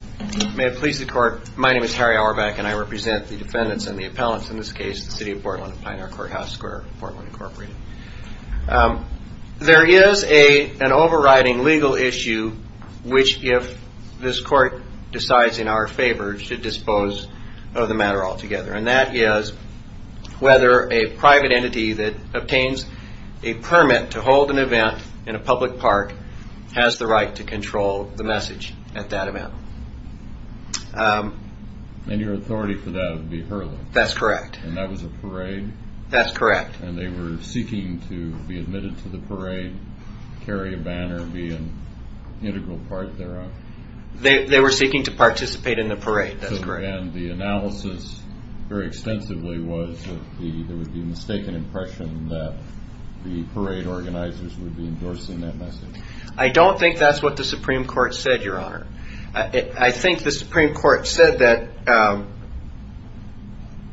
There is an overriding legal issue which, if this court decides in our favor, should dispose of the matter altogether, and that is whether a private entity that obtains a permit to hold an event in a public park has the right to control the message at that event. And your authority for that would be Hurley? That's correct. And that was a parade? That's correct. And they were seeking to be admitted to the parade, carry a banner, be an integral part thereof? They were seeking to participate in the parade, that's correct. And the analysis, very extensively, was that there would be a mistaken impression that the parade organizers would be endorsing that message? I don't think that's what the Supreme Court said, Your Honor. I think the Supreme Court said that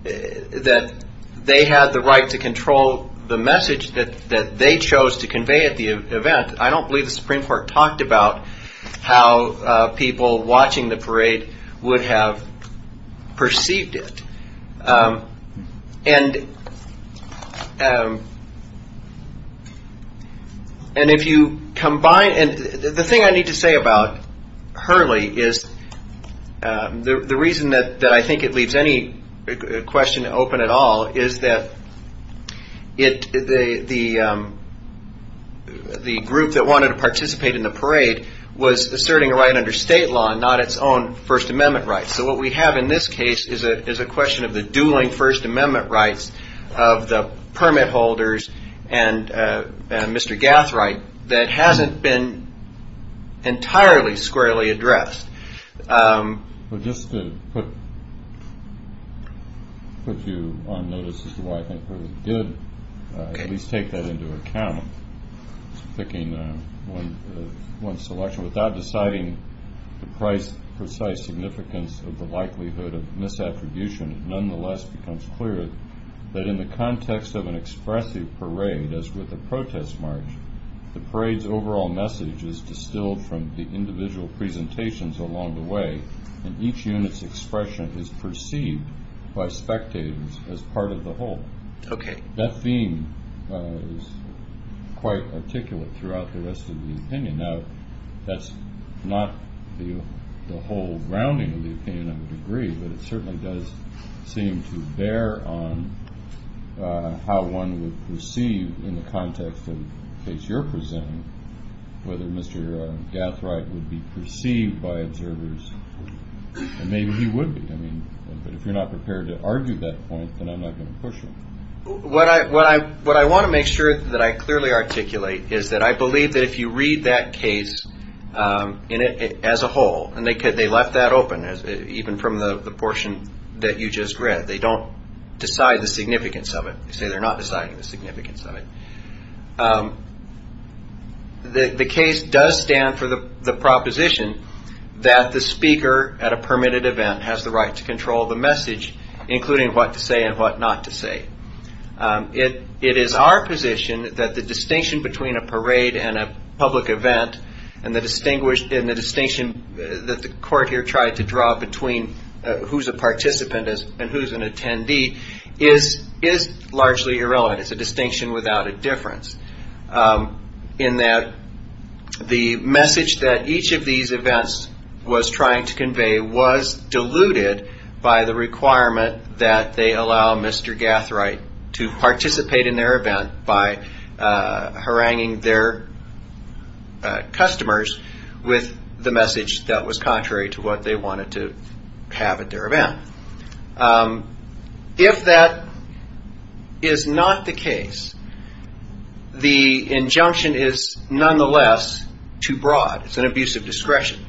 they had the right to control the message that they chose to convey at the event. I don't believe the Supreme Court talked about how people watching the parade would have perceived it. And if you combine – and the thing I need to say about Hurley is the reason that I think it leaves any question open at all is that the group that wanted to participate in the parade was asserting a right under state law and not its own First Amendment rights. So what we have in this case is a question of the dueling First Amendment rights of the permit holders and Mr. Gathwright that hasn't been entirely squarely addressed. Well, just to put you on notice as to why I think Hurley did at least take that into account, picking one selection without deciding the precise significance of the likelihood of misattribution, it nonetheless becomes clear that in the context of an expressive parade, as with a protest march, the parade's overall message is distilled from the individual presentations along the way, and each unit's expression is perceived by spectators as part of the whole. That theme is quite articulate throughout the rest of the opinion. Now, that's not the whole grounding of the opinion, I would agree, but it certainly does seem to bear on how one would perceive in the context of the case you're presenting whether Mr. Gathwright would be perceived by observers, and maybe he would be. But if you're not prepared to argue that point, then I'm not going to push it. What I want to make sure that I clearly articulate is that I believe that if you read that case as a whole, and they left that open, even from the portion that you just read, they don't decide the significance of it. They say they're not deciding the significance of it. The case does stand for the proposition that the speaker at a permitted event has the right to control the message, including what to say and what not to say. It is our position that the distinction between a parade and a public event, and the distinction that the court here tried to draw between who's a participant and who's an attendee, is largely irrelevant. It's a distinction without a difference, in that the message that each of these events was trying to convey was diluted by the requirement that they allow Mr. Gathwright to participate in their event by haranguing their customers with the message that was contrary to what they wanted to have at their event. If that is not the case, the injunction is nonetheless too broad. It's an abuse of discretion.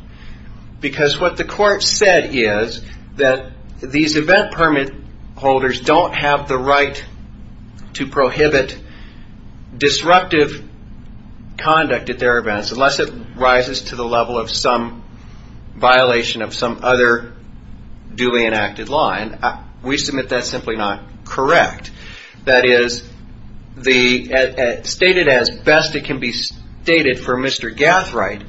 What the court said is that these event permit holders don't have the right to prohibit disruptive conduct at their events unless it rises to the level of some violation of some other duly enacted line. We submit that's simply not correct. That is, stated as best it can be stated for Mr. Gathwright,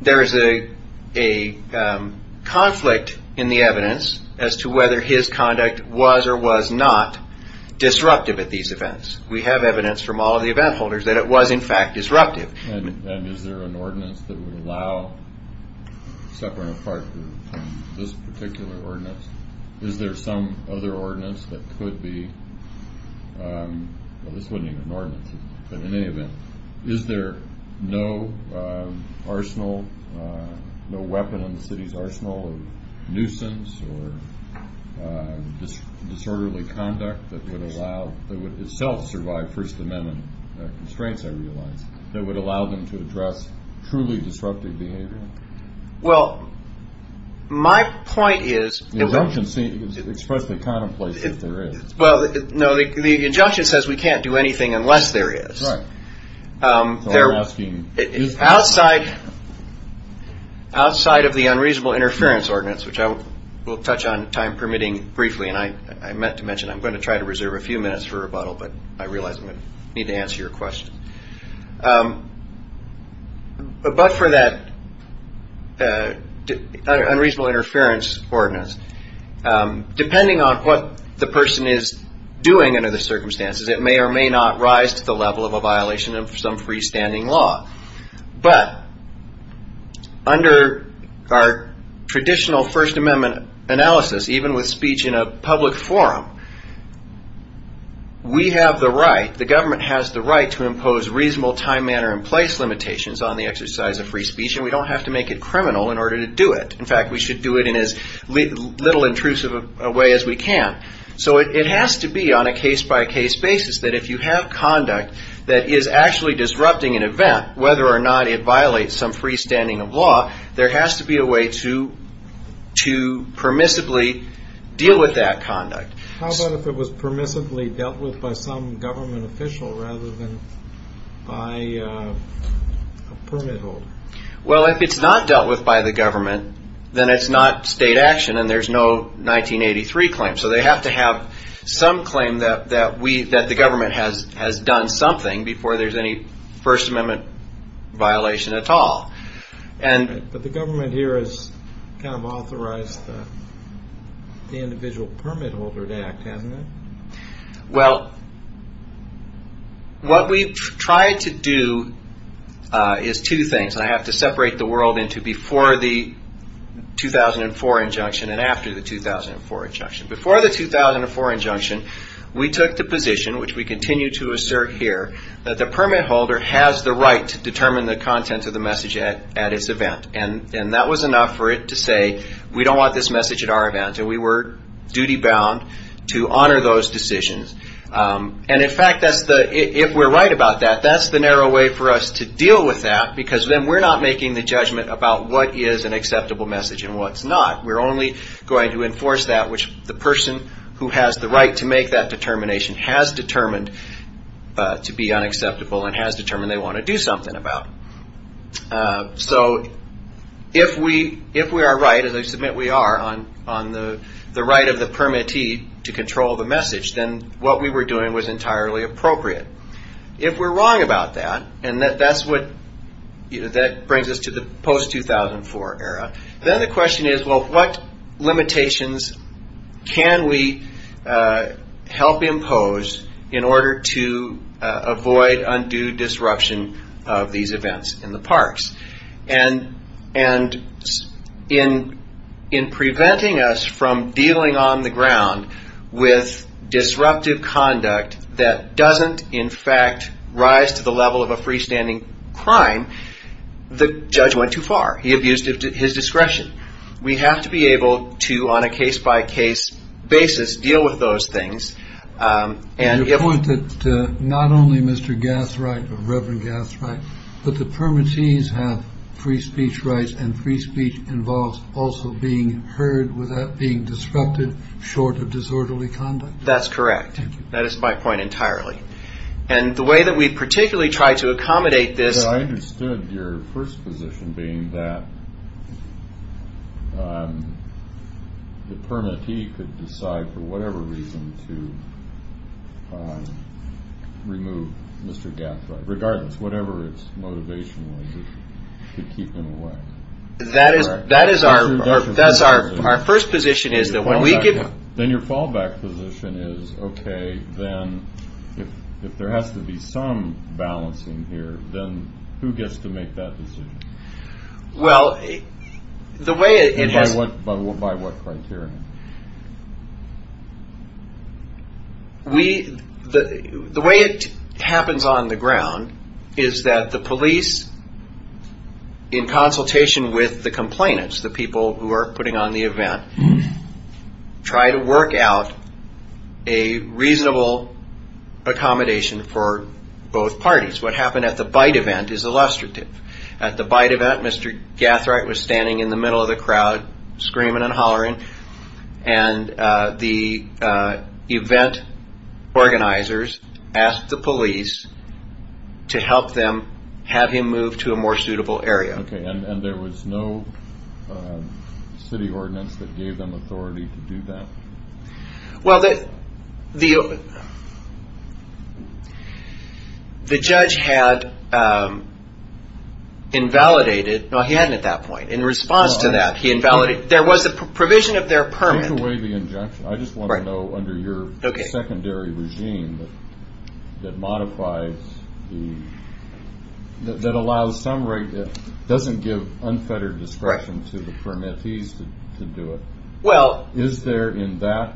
there is a conflict in the evidence as to whether his conduct was or was not disruptive at these events. We have evidence from all of the event holders that it was in fact disruptive. And is there an ordinance that would allow separate or part of this particular ordinance? Is there some other ordinance that could be, well this wasn't even an ordinance, but in any event, is there no arsenal, no weapon in the city's arsenal of nuisance or disorderly conduct that would allow, that would itself survive First Amendment constraints I realize, that would allow them to address truly disruptive behavior? Well, my point is... The injunction seems to express the contemplation that there is. Well, no, the injunction says we can't do anything unless there is. Outside of the unreasonable interference ordinance, which I will touch on time permitting briefly, and I meant to mention I'm going to try to reserve a few minutes for rebuttal, but I realize I'm going to need to answer your question. But for that unreasonable interference ordinance, depending on what the person is doing under the circumstances, it may or may not rise to the level of a violation of some freestanding law. But under our traditional First Amendment analysis, even with speech in a public forum, we have the right, the government has the right to impose reasonable time, manner, and place limitations on the exercise of free speech, and we don't have to make it criminal in order to do it. In fact, we should do it in as little intrusive a way as we can. So it has to be on a case-by-case basis that if you have conduct that is actually disrupting an event, whether or not it violates some freestanding of law, there has to be a way to permissibly deal with that conduct. How about if it was permissibly dealt with by some government official rather than by a permit holder? Well, if it's not dealt with by the government, then it's not state action and there's no 1983 claim. So they have to have some claim that the government has done something before there's any First Amendment violation at all. But the government here has kind of authorized the individual permit holder to act, hasn't it? Well, what we've tried to do is two things. I have to separate the world into before the 2004 injunction and after the 2004 injunction. Before the 2004 injunction, we took the position, which we continue to assert here, that the permit holder has the right to determine the contents of the message at its event. And that was enough for it to say, we don't want this message at our event, and we were duty-bound to honor those decisions. And in fact, if we're right about that, that's the narrow way for us to deal with that, because then we're not making the judgment about what is an acceptable message and what's not. We're only going to enforce that which the person who has the right to make that determination has determined to be unacceptable and has determined they want to do something about. So if we are right, as I submit we are, on the right of the permittee to control the message, then what we were doing was entirely appropriate. If we're wrong about that, and that brings us to the post-2004 era, then the question is, well, what limitations can we help impose in order to avoid undue disruption of these events in the parks? And in preventing us from dealing on the ground with disruptive conduct that doesn't, in fact, rise to the level of a freestanding crime, the judge went too far. He abused his discretion. We have to be able to, on a case-by-case basis, deal with those things. And your point that not only Mr. Gathright or Reverend Gathright, but the permittees have free speech rights and free speech involves also being heard without being disrupted short of disorderly conduct. That's correct. Thank you. That is my point entirely. And the way that we particularly try to accommodate this I understood your first position being that the permittee could decide for whatever reason to remove Mr. Gathright, regardless, whatever its motivation was, to keep him away. That is our first position is that when we give Then your fallback position is, okay, then if there has to be some balancing here, then who gets to make that decision? Well, the way it has And by what criteria? The way it happens on the ground is that the police, in consultation with the complainants, the people who are putting on the event, try to work out a reasonable accommodation for both parties. What happened at the bite event is illustrative. At the bite event, Mr. Gathright was standing in the middle of the crowd, screaming and hollering. And the event organizers asked the police to help them have him move to a more suitable area. And there was no city ordinance that gave them authority to do that? Well, the judge had invalidated. No, he hadn't at that point. In response to that, he invalidated. There was a provision of their permit. Take away the injunction. I just want to know, under your secondary regime, that allows some right that doesn't give unfettered discretion to the permittees to do it. Is there, in that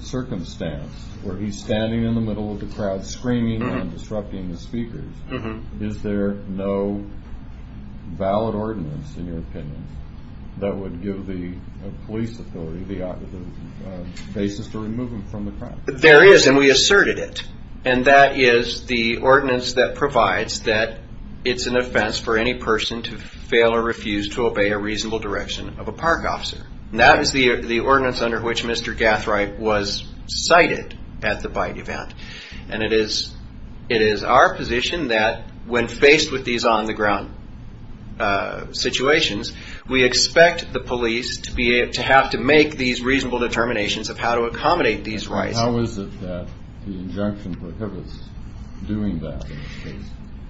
circumstance, where he's standing in the middle of the crowd screaming and disrupting the speakers, is there no valid ordinance, in your opinion, that would give the police authority the basis to remove him from the crowd? There is, and we asserted it. And that is the ordinance that provides that it's an offense for any person to fail or refuse to obey a reasonable direction of a park officer. That is the ordinance under which Mr. Gathright was cited at the bite event. And it is our position that when faced with these on-the-ground situations, we expect the police to have to make these reasonable determinations of how to accommodate these rights. How is it that the injunction prohibits doing that?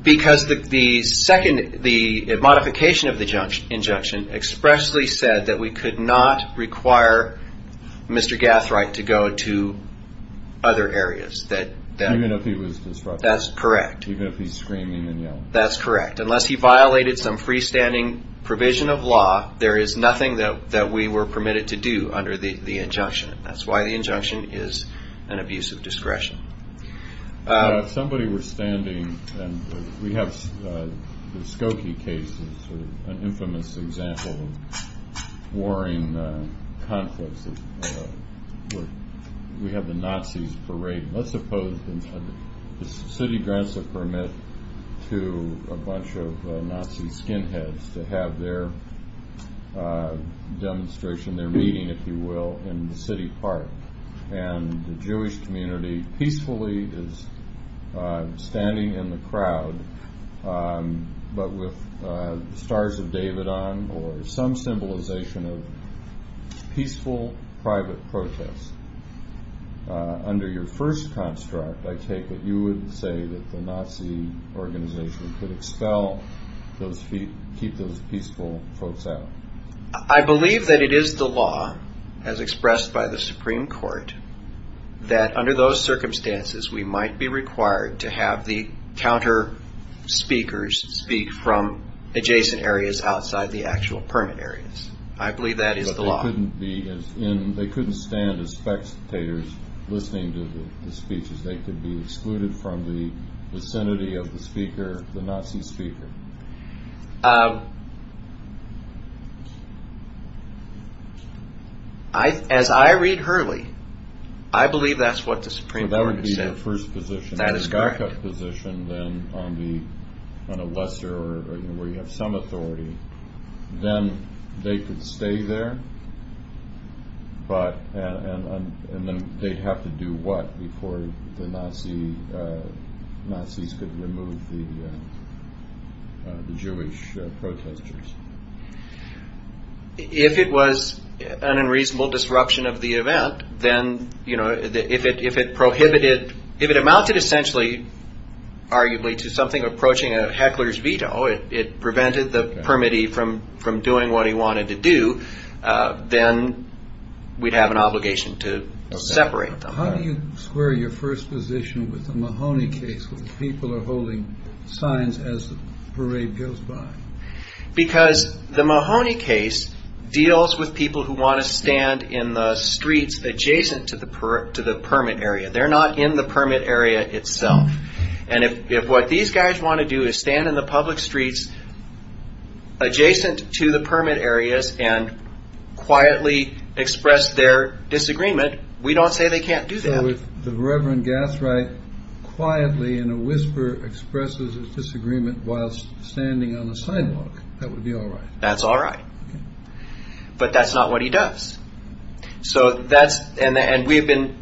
Because the modification of the injunction expressly said that we could not require Mr. Gathright to go to other areas. Even if he was disrupting? That's correct. Even if he's screaming and yelling? That's correct. Unless he violated some freestanding provision of law, there is nothing that we were permitted to do under the injunction. That's why the injunction is an abuse of discretion. Somebody was standing, and we have the Skokie case, an infamous example of warring conflicts. We have the Nazis parade. Let's suppose the city grants a permit to a bunch of Nazi skinheads to have their demonstration, their meeting, if you will, in the city park. And the Jewish community peacefully is standing in the crowd, but with stars of David on or some symbolization of peaceful, private protest. Under your first construct, I take it you would say that the Nazi organization could expel those, keep those peaceful folks out. I believe that it is the law, as expressed by the Supreme Court, that under those circumstances we might be required to have the counter speakers speak from adjacent areas outside the actual permit areas. I believe that is the law. But they couldn't stand as spectators listening to the speeches. They could be excluded from the vicinity of the speaker, the Nazi speaker. As I read Hurley, I believe that is what the Supreme Court said. That would be the first position. That is correct. then on a lesser, where you have some authority, then they could stay there, and then they would have to do what before the Nazis could remove the Jewish protesters? If it was an unreasonable disruption of the event, then if it prohibited, if it amounted essentially arguably to something approaching a heckler's veto, it prevented the permittee from doing what he wanted to do, then we would have an obligation to separate them. How do you square your first position with the Mahoney case where people are holding signs as the parade goes by? Because the Mahoney case deals with people who want to stand in the streets adjacent to the permit area. They're not in the permit area itself. And if what these guys want to do is stand in the public streets adjacent to the permit areas and quietly express their disagreement, we don't say they can't do that. So if the Reverend Gathright quietly in a whisper expresses his disagreement while standing on the sidewalk, that would be all right? That's all right. But that's not what he does. And we've been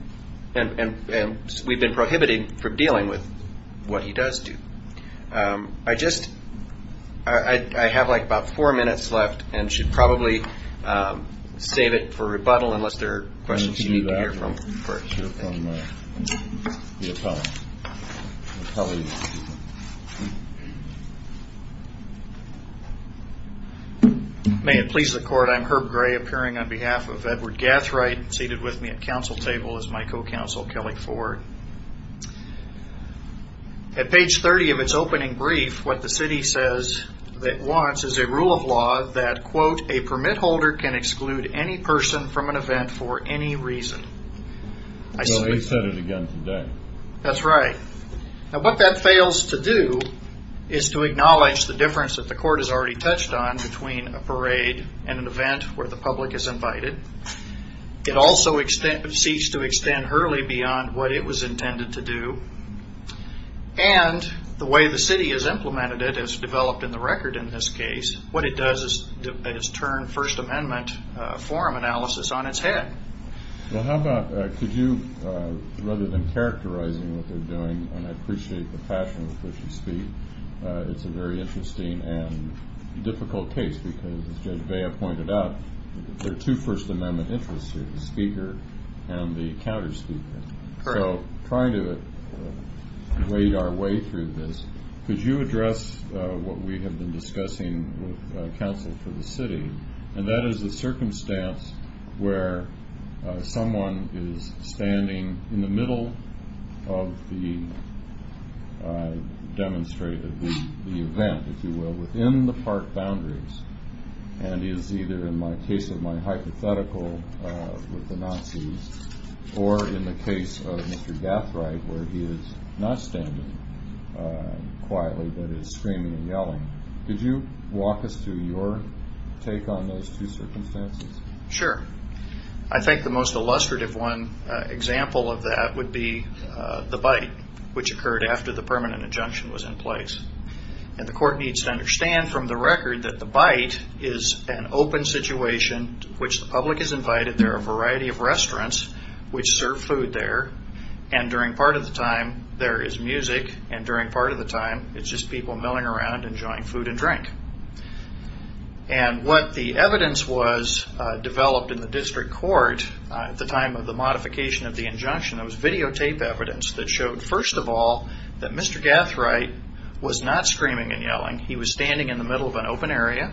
prohibiting from dealing with what he does do. I have like about four minutes left and should probably save it for rebuttal unless there are questions you need to hear from first. May it please the court, I'm Herb Gray, appearing on behalf of Edward Gathright. Seated with me at council table is my co-counsel, Kelly Ford. At page 30 of its opening brief, what the city says it wants is a rule of law that, quote, a permit holder can exclude any person from an event for any reason. Well, they said it again today. That's right. Now, what that fails to do is to acknowledge the difference that the court has already touched on between a parade and an event where the public is invited. It also seeks to extend early beyond what it was intended to do. And the way the city has implemented it has developed in the record in this case. What it does is turn First Amendment forum analysis on its head. Well, how about could you, rather than characterizing what they're doing, and I appreciate the passion with which you speak, it's a very interesting and difficult case because, as Judge Bea pointed out, there are two First Amendment interests here, the speaker and the counterspeaker. Correct. So trying to wade our way through this, could you address what we have been discussing with counsel for the city, and that is the circumstance where someone is standing in the middle of the demonstrated, the event, if you will, within the park boundaries and is either, in the case of my hypothetical with the Nazis, or in the case of Mr. Gathright where he is not standing quietly but is screaming and yelling. Could you walk us through your take on those two circumstances? Sure. I think the most illustrative one example of that would be the bite, which occurred after the permanent injunction was in place. And the court needs to understand from the record that the bite is an open situation to which the public is invited. There are a variety of restaurants which serve food there, and during part of the time there is music, and during part of the time it is just people milling around enjoying food and drink. And what the evidence was developed in the district court at the time of the modification of the injunction, it was videotape evidence that showed, first of all, that Mr. Gathright was not screaming and yelling. He was standing in the middle of an open area,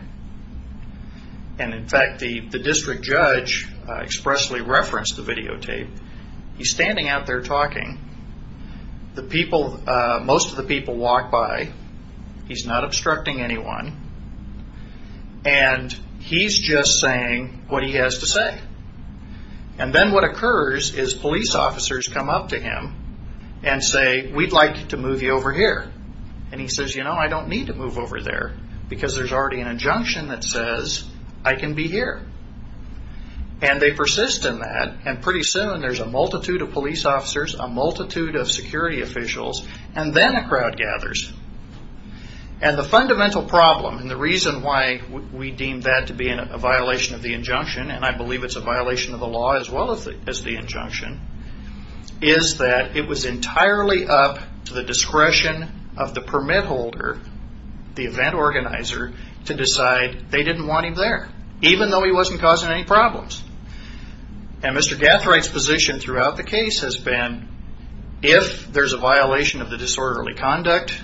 and in fact the district judge expressly referenced the videotape. He is standing out there talking. Most of the people walk by. He is not obstructing anyone. And he is just saying what he has to say. And then what occurs is police officers come up to him and say, we would like to move you over here. And he says, you know, I don't need to move over there because there is already an injunction that says I can be here. And they persist in that, and pretty soon there is a multitude of police officers, a multitude of security officials, and then a crowd gathers. And the fundamental problem, and the reason why we deem that to be a violation of the injunction, and I believe it is a violation of the law as well as the injunction, is that it was entirely up to the discretion of the permit holder, the event organizer, to decide they didn't want him there, even though he wasn't causing any problems. And Mr. Gathright's position throughout the case has been, if there is a violation of the disorderly conduct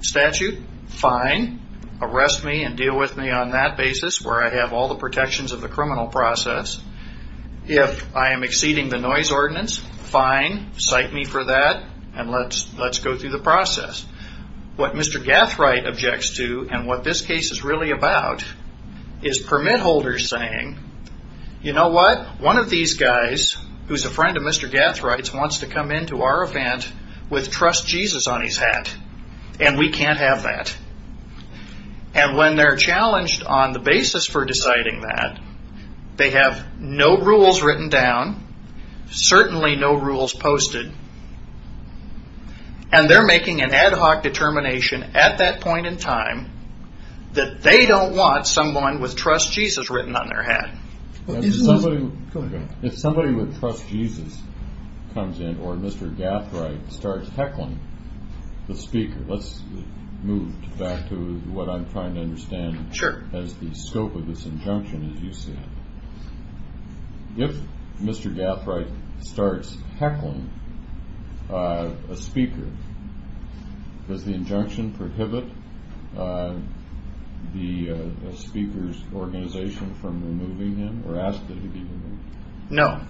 statute, fine, arrest me and deal with me on that basis where I have all the protections of the criminal process. If I am exceeding the noise ordinance, fine, cite me for that, and let's go through the process. What Mr. Gathright objects to, and what this case is really about, is permit holders saying, you know what, one of these guys, who is a friend of Mr. Gathright's, wants to come into our event with Trust Jesus on his hat, and we can't have that. And when they are challenged on the basis for deciding that, they have no rules written down, certainly no rules posted, and they're making an ad hoc determination at that point in time that they don't want someone with Trust Jesus written on their hat. If somebody with Trust Jesus comes in, or Mr. Gathright starts heckling the speaker, let's move back to what I'm trying to understand as the scope of this injunction, as you said. If Mr. Gathright starts heckling a speaker, does the injunction prohibit the speaker's organization from removing him, or ask that he be removed? No.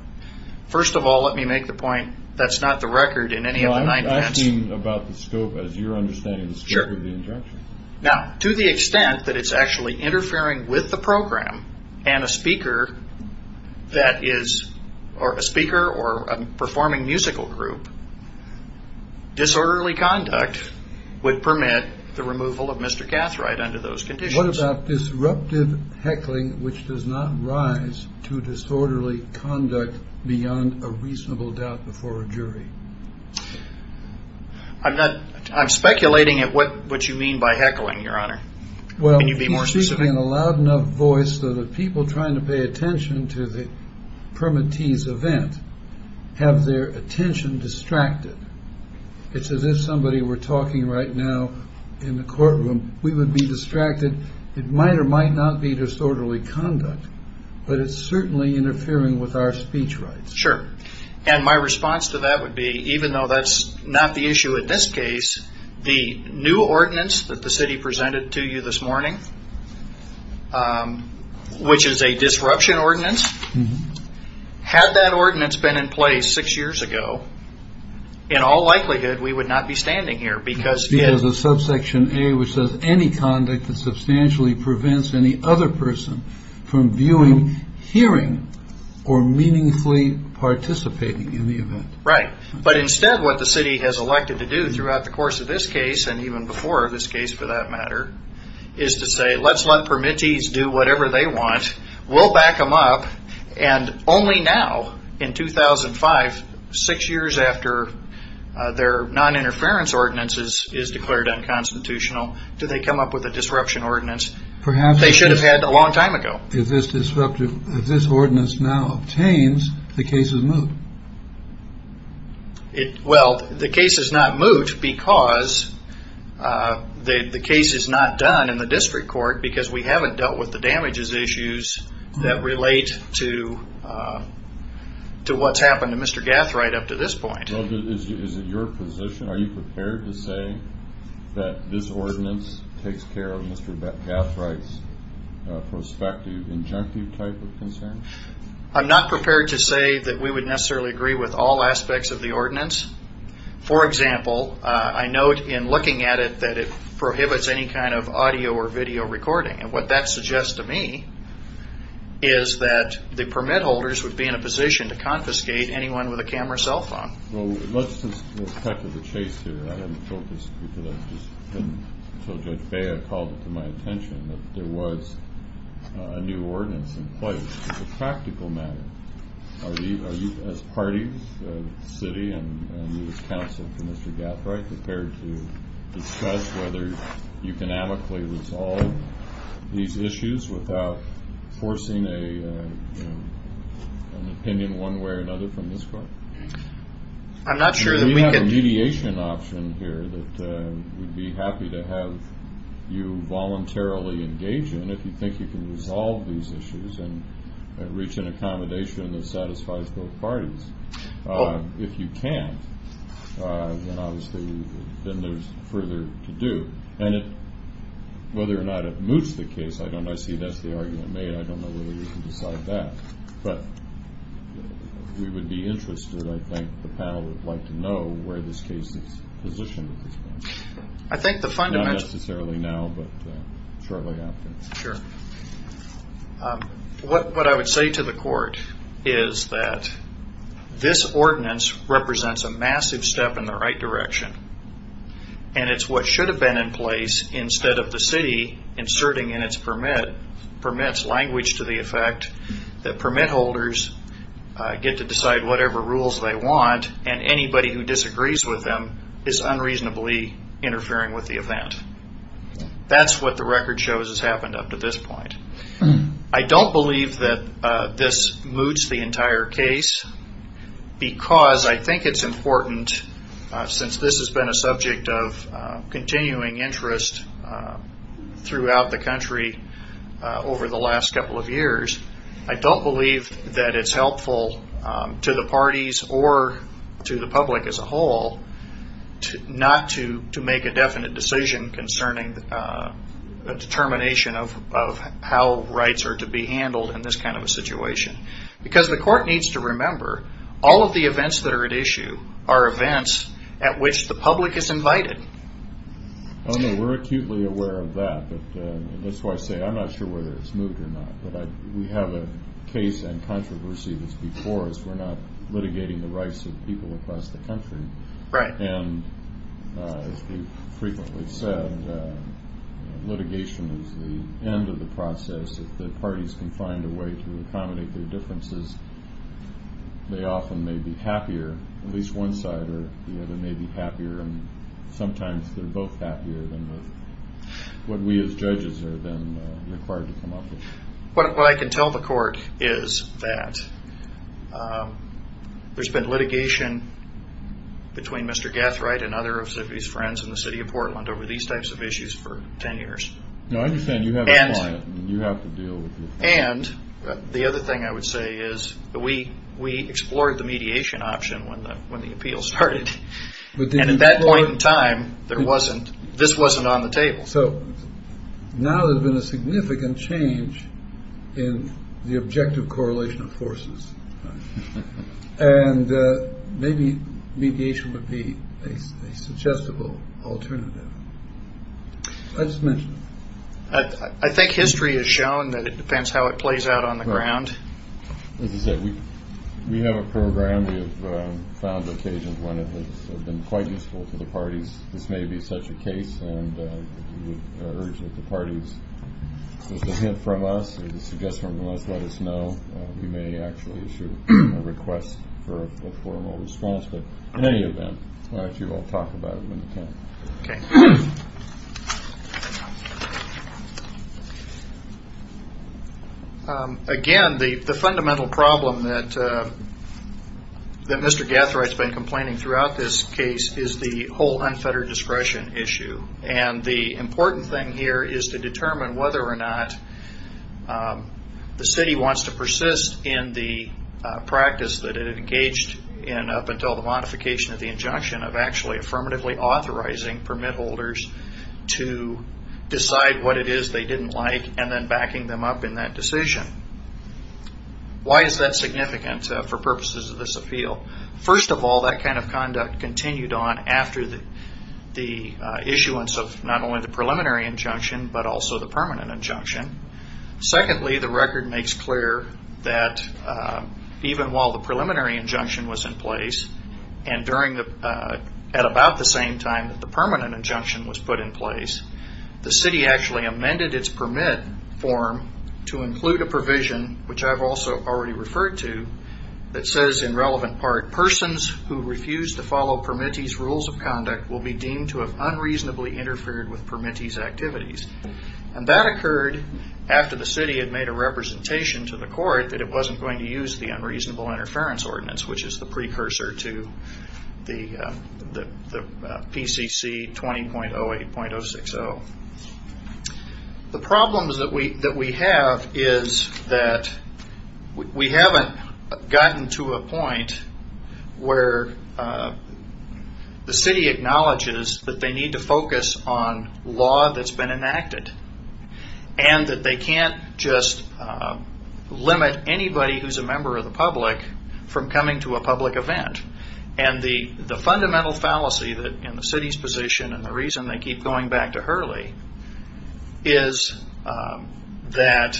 First of all, let me make the point, that's not the record in any of the nine events. I'm asking about the scope, as you're understanding the scope of the injunction. Now, to the extent that it's actually interfering with the program, and a speaker, or a performing musical group, disorderly conduct would permit the removal of Mr. Gathright under those conditions. What about disruptive heckling, which does not rise to disorderly conduct beyond a reasonable doubt before a jury? I'm speculating at what you mean by heckling, Your Honor. Well, he's speaking in a loud enough voice that the people trying to pay attention to the permittees event have their attention distracted. It's as if somebody were talking right now in the courtroom, we would be distracted. It might or might not be disorderly conduct, but it's certainly interfering with our speech rights. Sure. And my response to that would be, even though that's not the issue in this case, the new ordinance that the city presented to you this morning, which is a disruption ordinance, had that ordinance been in place six years ago, in all likelihood, we would not be standing here. Because of subsection A, which says, that substantially prevents any other person from viewing, hearing, or meaningfully participating in the event. Right. But instead, what the city has elected to do throughout the course of this case, and even before this case for that matter, is to say, let's let permittees do whatever they want. We'll back them up. And only now, in 2005, six years after their noninterference ordinance is declared unconstitutional, do they come up with a disruption ordinance they should have had a long time ago. If this ordinance now obtains, the case is moot. Well, the case is not moot because the case is not done in the district court, because we haven't dealt with the damages issues that relate to what's happened to Mr. Gathright up to this point. Is it your position, are you prepared to say that this ordinance takes care of Mr. Gathright's prospective, injunctive type of concern? I'm not prepared to say that we would necessarily agree with all aspects of the ordinance. For example, I note in looking at it, that it prohibits any kind of audio or video recording. And what that suggests to me is that the permit holders would be in a position to confiscate anyone with a camera cell phone. Well, let's just go back to the chase here. I didn't focus until Judge Bea called it to my attention that there was a new ordinance in place. As a practical matter, are you as party, city, and you as counsel to Mr. Gathright prepared to discuss whether you can amicably resolve these issues without forcing an opinion one way or another from this court? We have a mediation option here that we'd be happy to have you voluntarily engage in if you think you can resolve these issues and reach an accommodation that satisfies both parties. If you can't, then there's further to do. Whether or not it moots the case, I see that's the argument made. I don't know whether you can decide that, but we would be interested. I think the panel would like to know where this case is positioned at this point. Not necessarily now, but shortly after. What I would say to the court is that this ordinance represents a massive step in the right direction. It's what should have been in place instead of the city inserting in its permit permits language to the effect that permit holders get to decide whatever rules they want and anybody who disagrees with them is unreasonably interfering with the event. That's what the record shows has happened up to this point. I don't believe that this moots the entire case because I think it's important since this has been a subject of continuing interest throughout the country over the last couple of years. I don't believe that it's helpful to the parties or to the public as a whole not to make a definite decision concerning a determination of how rights are to be handled in this kind of a situation. Because the court needs to remember all of the events that are at issue are events at which the public is invited. We're acutely aware of that. That's why I say I'm not sure whether it's moved or not. We have a case and controversy that's before us. We're not litigating the rights of people across the country. As we've frequently said, litigation is the end of the process. If the parties can find a way to accommodate their differences, they often may be happier. At least one side or the other may be happier. Sometimes they're both happier than what we as judges are then required to come up with. What I can tell the court is that there's been litigation between Mr. Gathright and other of his friends in the city of Portland over these types of issues for 10 years. No, I understand. You have a client. You have to deal with this. And the other thing I would say is that we explored the mediation option when the appeal started. And at that point in time, this wasn't on the table. So now there's been a significant change in the objective correlation of forces. And maybe mediation would be a suggestible alternative. I just mentioned it. I think history has shown that it depends how it plays out on the ground. As I said, we have a program. We have found occasions when it has been quite useful to the parties. This may be such a case. And we would urge that the parties, if there's a hint from us or a suggestion from us, let us know. We may actually issue a request for a formal response. But in any event, why don't you all talk about it when you can. Okay. Again, the fundamental problem that Mr. Gathright's been complaining throughout this case is the whole unfettered discretion issue. And the important thing here is to determine whether or not the city wants to persist in the practice that it engaged in up until the modification of the injunction of actually affirmatively authorizing permit holders to decide what it is they didn't like and then backing them up in that decision. Why is that significant for purposes of this appeal? First of all, that kind of conduct continued on after the issuance of not only the preliminary injunction, but also the permanent injunction. Secondly, the record makes clear that even while the preliminary injunction was in place and at about the same time that the permanent injunction was put in place, the city actually amended its permit form to include a provision, which I've also already referred to, that says in relevant part, persons who refuse to follow permittees rules of conduct will be deemed to have unreasonably interfered with permittees activities. And that occurred after the city had made a representation to the court that it wasn't going to use the unreasonable interference ordinance, which is the precursor to the PCC 20.08.060. The problems that we have is that we haven't gotten to a point where the city acknowledges that they need to focus on law that's been enacted and that they can't just limit anybody who's a member of the public from coming to a public event. And the fundamental fallacy in the city's position and the reason they keep going back to Hurley is that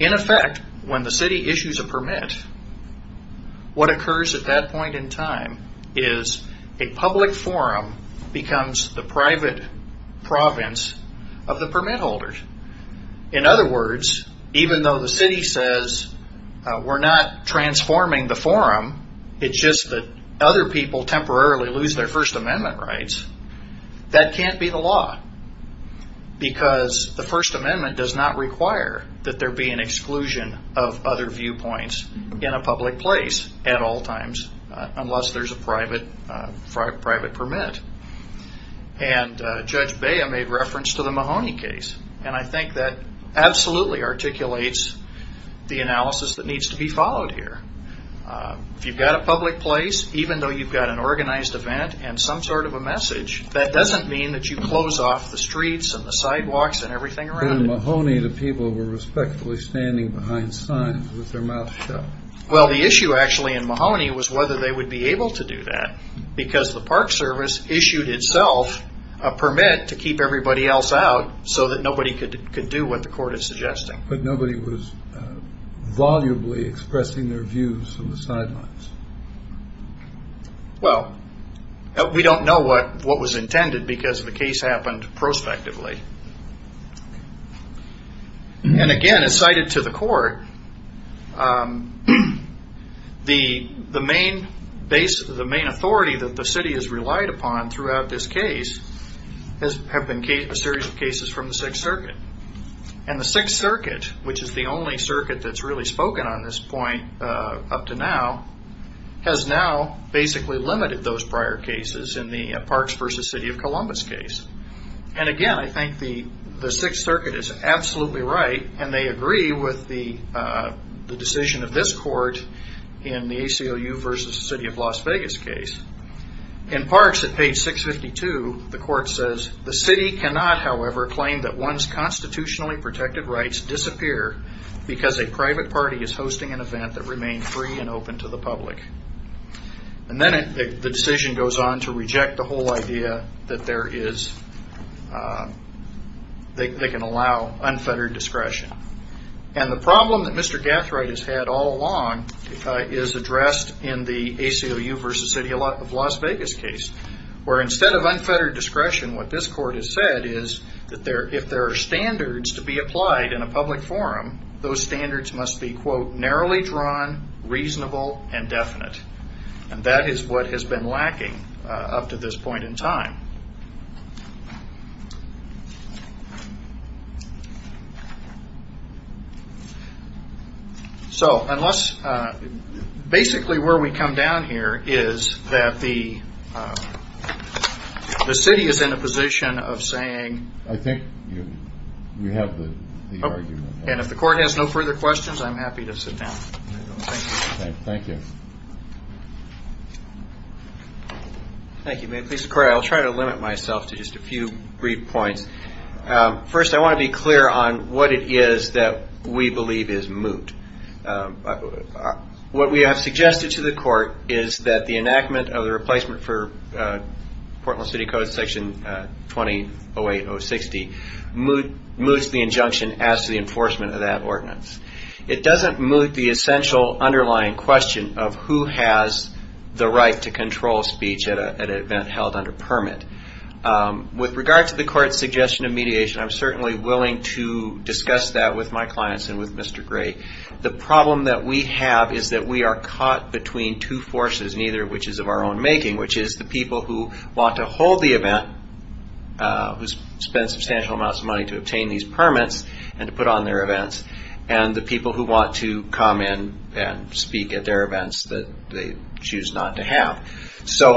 in effect, when the city issues a permit, what occurs at that point in time is a public forum becomes the private province of the permit holders. In other words, even though the city says we're not transforming the forum, it's just that other people temporarily lose their First Amendment rights, that can't be the law. Because the First Amendment does not require that there be an exclusion of other viewpoints in a public place at all times, unless there's a private permit. And Judge Bea made reference to the Mahoney case. And I think that absolutely articulates the analysis that needs to be followed here. If you've got a public place, even though you've got an organized event and some sort of a message, that doesn't mean that you close off the streets and the sidewalks and everything around it. In Mahoney, the people were respectfully standing behind signs with their mouths shut. Well, the issue actually in Mahoney was whether they would be able to do that, because the Park Service issued itself a permit to keep everybody else out so that nobody could do what the court is suggesting. But nobody was volubly expressing their views from the sidelines. Well, we don't know what was intended because the case happened prospectively. And again, as cited to the court, the main authority that the city has relied upon throughout this case have been a series of cases from the Sixth Circuit. And the Sixth Circuit, which is the only circuit that's really spoken on this point up to now, has now basically limited those prior cases in the Parks v. City of Columbus case. And again, I think the Sixth Circuit is absolutely right, and they agree with the decision of this court in the ACLU v. City of Las Vegas case. In Parks, at page 652, the court says, The city cannot, however, claim that one's constitutionally protected rights disappear because a private party is hosting an event that remains free and open to the public. And then the decision goes on to reject the whole idea that they can allow unfettered discretion. And the problem that Mr. Gathright has had all along is addressed in the ACLU v. City of Las Vegas case, where instead of unfettered discretion, what this court has said is that if there are standards to be applied in a public forum, those standards must be, quote, narrowly drawn, reasonable, and definite. And that is what has been lacking up to this point in time. So basically where we come down here is that the city is in a position of saying— I think you have the argument. And if the court has no further questions, I'm happy to sit down. Thank you. Thank you. May it please the court, I'll try to limit myself to just a few brief points. First, I want to be clear on what it is that we believe is moot. What we have suggested to the court is that the enactment of the replacement for Portland City Code, Section 2008.060, moots the injunction as to the enforcement of that ordinance. It doesn't moot the essential underlying question of who has the right to control speech at an event held under permit. With regard to the court's suggestion of mediation, I'm certainly willing to discuss that with my clients and with Mr. Gray. The problem that we have is that we are caught between two forces, neither of which is of our own making, which is the people who want to hold the event, who spend substantial amounts of money to obtain these permits, and to put on their events, and the people who want to come in and speak at their events that they choose not to have. So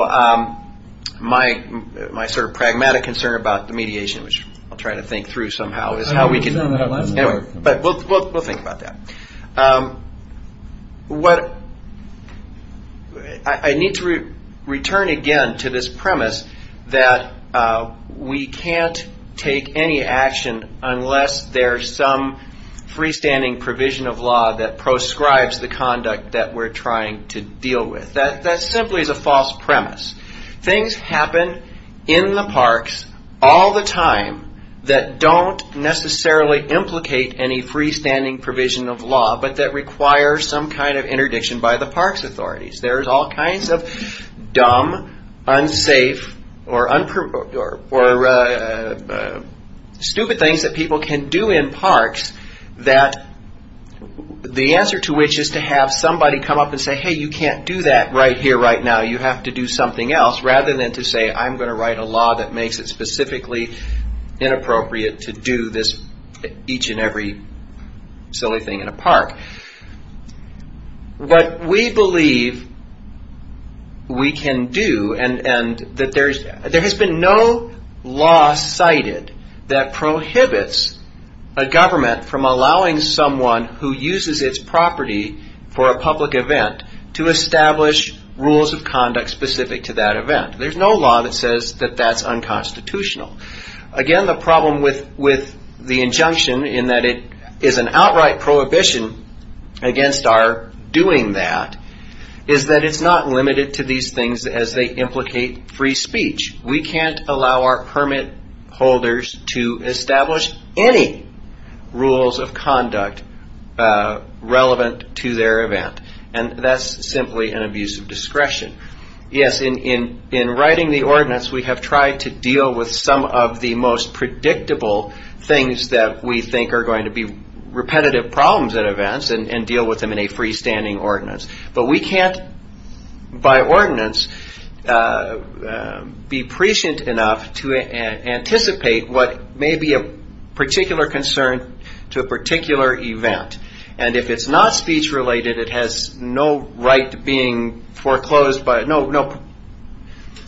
my sort of pragmatic concern about the mediation, which I'll try to think through somehow, is how we can— We'll think about that. I need to return again to this premise that we can't take any action unless there's some freestanding provision of law that proscribes the conduct that we're trying to deal with. That simply is a false premise. Things happen in the parks all the time that don't necessarily implicate any freestanding provision of law, but that require some kind of interdiction by the parks authorities. There's all kinds of dumb, unsafe, or stupid things that people can do in parks that the answer to which is to have somebody come up and say, hey, you can't do that right here, right now, you have to do something else, rather than to say, I'm going to write a law that makes it specifically inappropriate to do each and every silly thing in a park. But we believe we can do, and that there has been no law cited that prohibits a government from allowing someone who uses its property for a public event to establish rules of conduct specific to that event. There's no law that says that that's unconstitutional. Again, the problem with the injunction in that it is an outright prohibition against our doing that, is that it's not limited to these things as they implicate free speech. We can't allow our permit holders to establish any rules of conduct relevant to their event. And that's simply an abuse of discretion. Yes, in writing the ordinance, we have tried to deal with some of the most predictable things that we think are going to be repetitive problems at events and deal with them in a freestanding ordinance. But we can't, by ordinance, be prescient enough to anticipate what may be a particular concern to a particular event. And if it's not speech-related, it has no right being foreclosed by, no,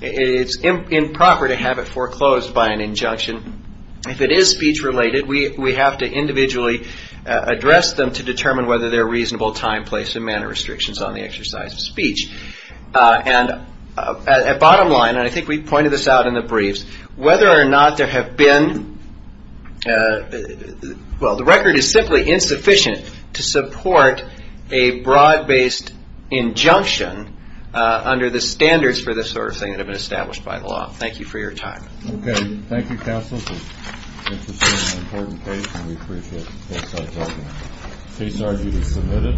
it's improper to have it foreclosed by an injunction. If it is speech-related, we have to individually address them to determine whether they're reasonable time, place, and manner restrictions on the exercise of speech. And a bottom line, and I think we pointed this out in the briefs, whether or not there have been, well, the record is simply insufficient to support a bribe-based injunction under the standards for this sort of thing that have been established by the law. Thank you for your time. Okay. Thank you, Counsel. This is an important case, and we appreciate both sides talking. Case argue is submitted.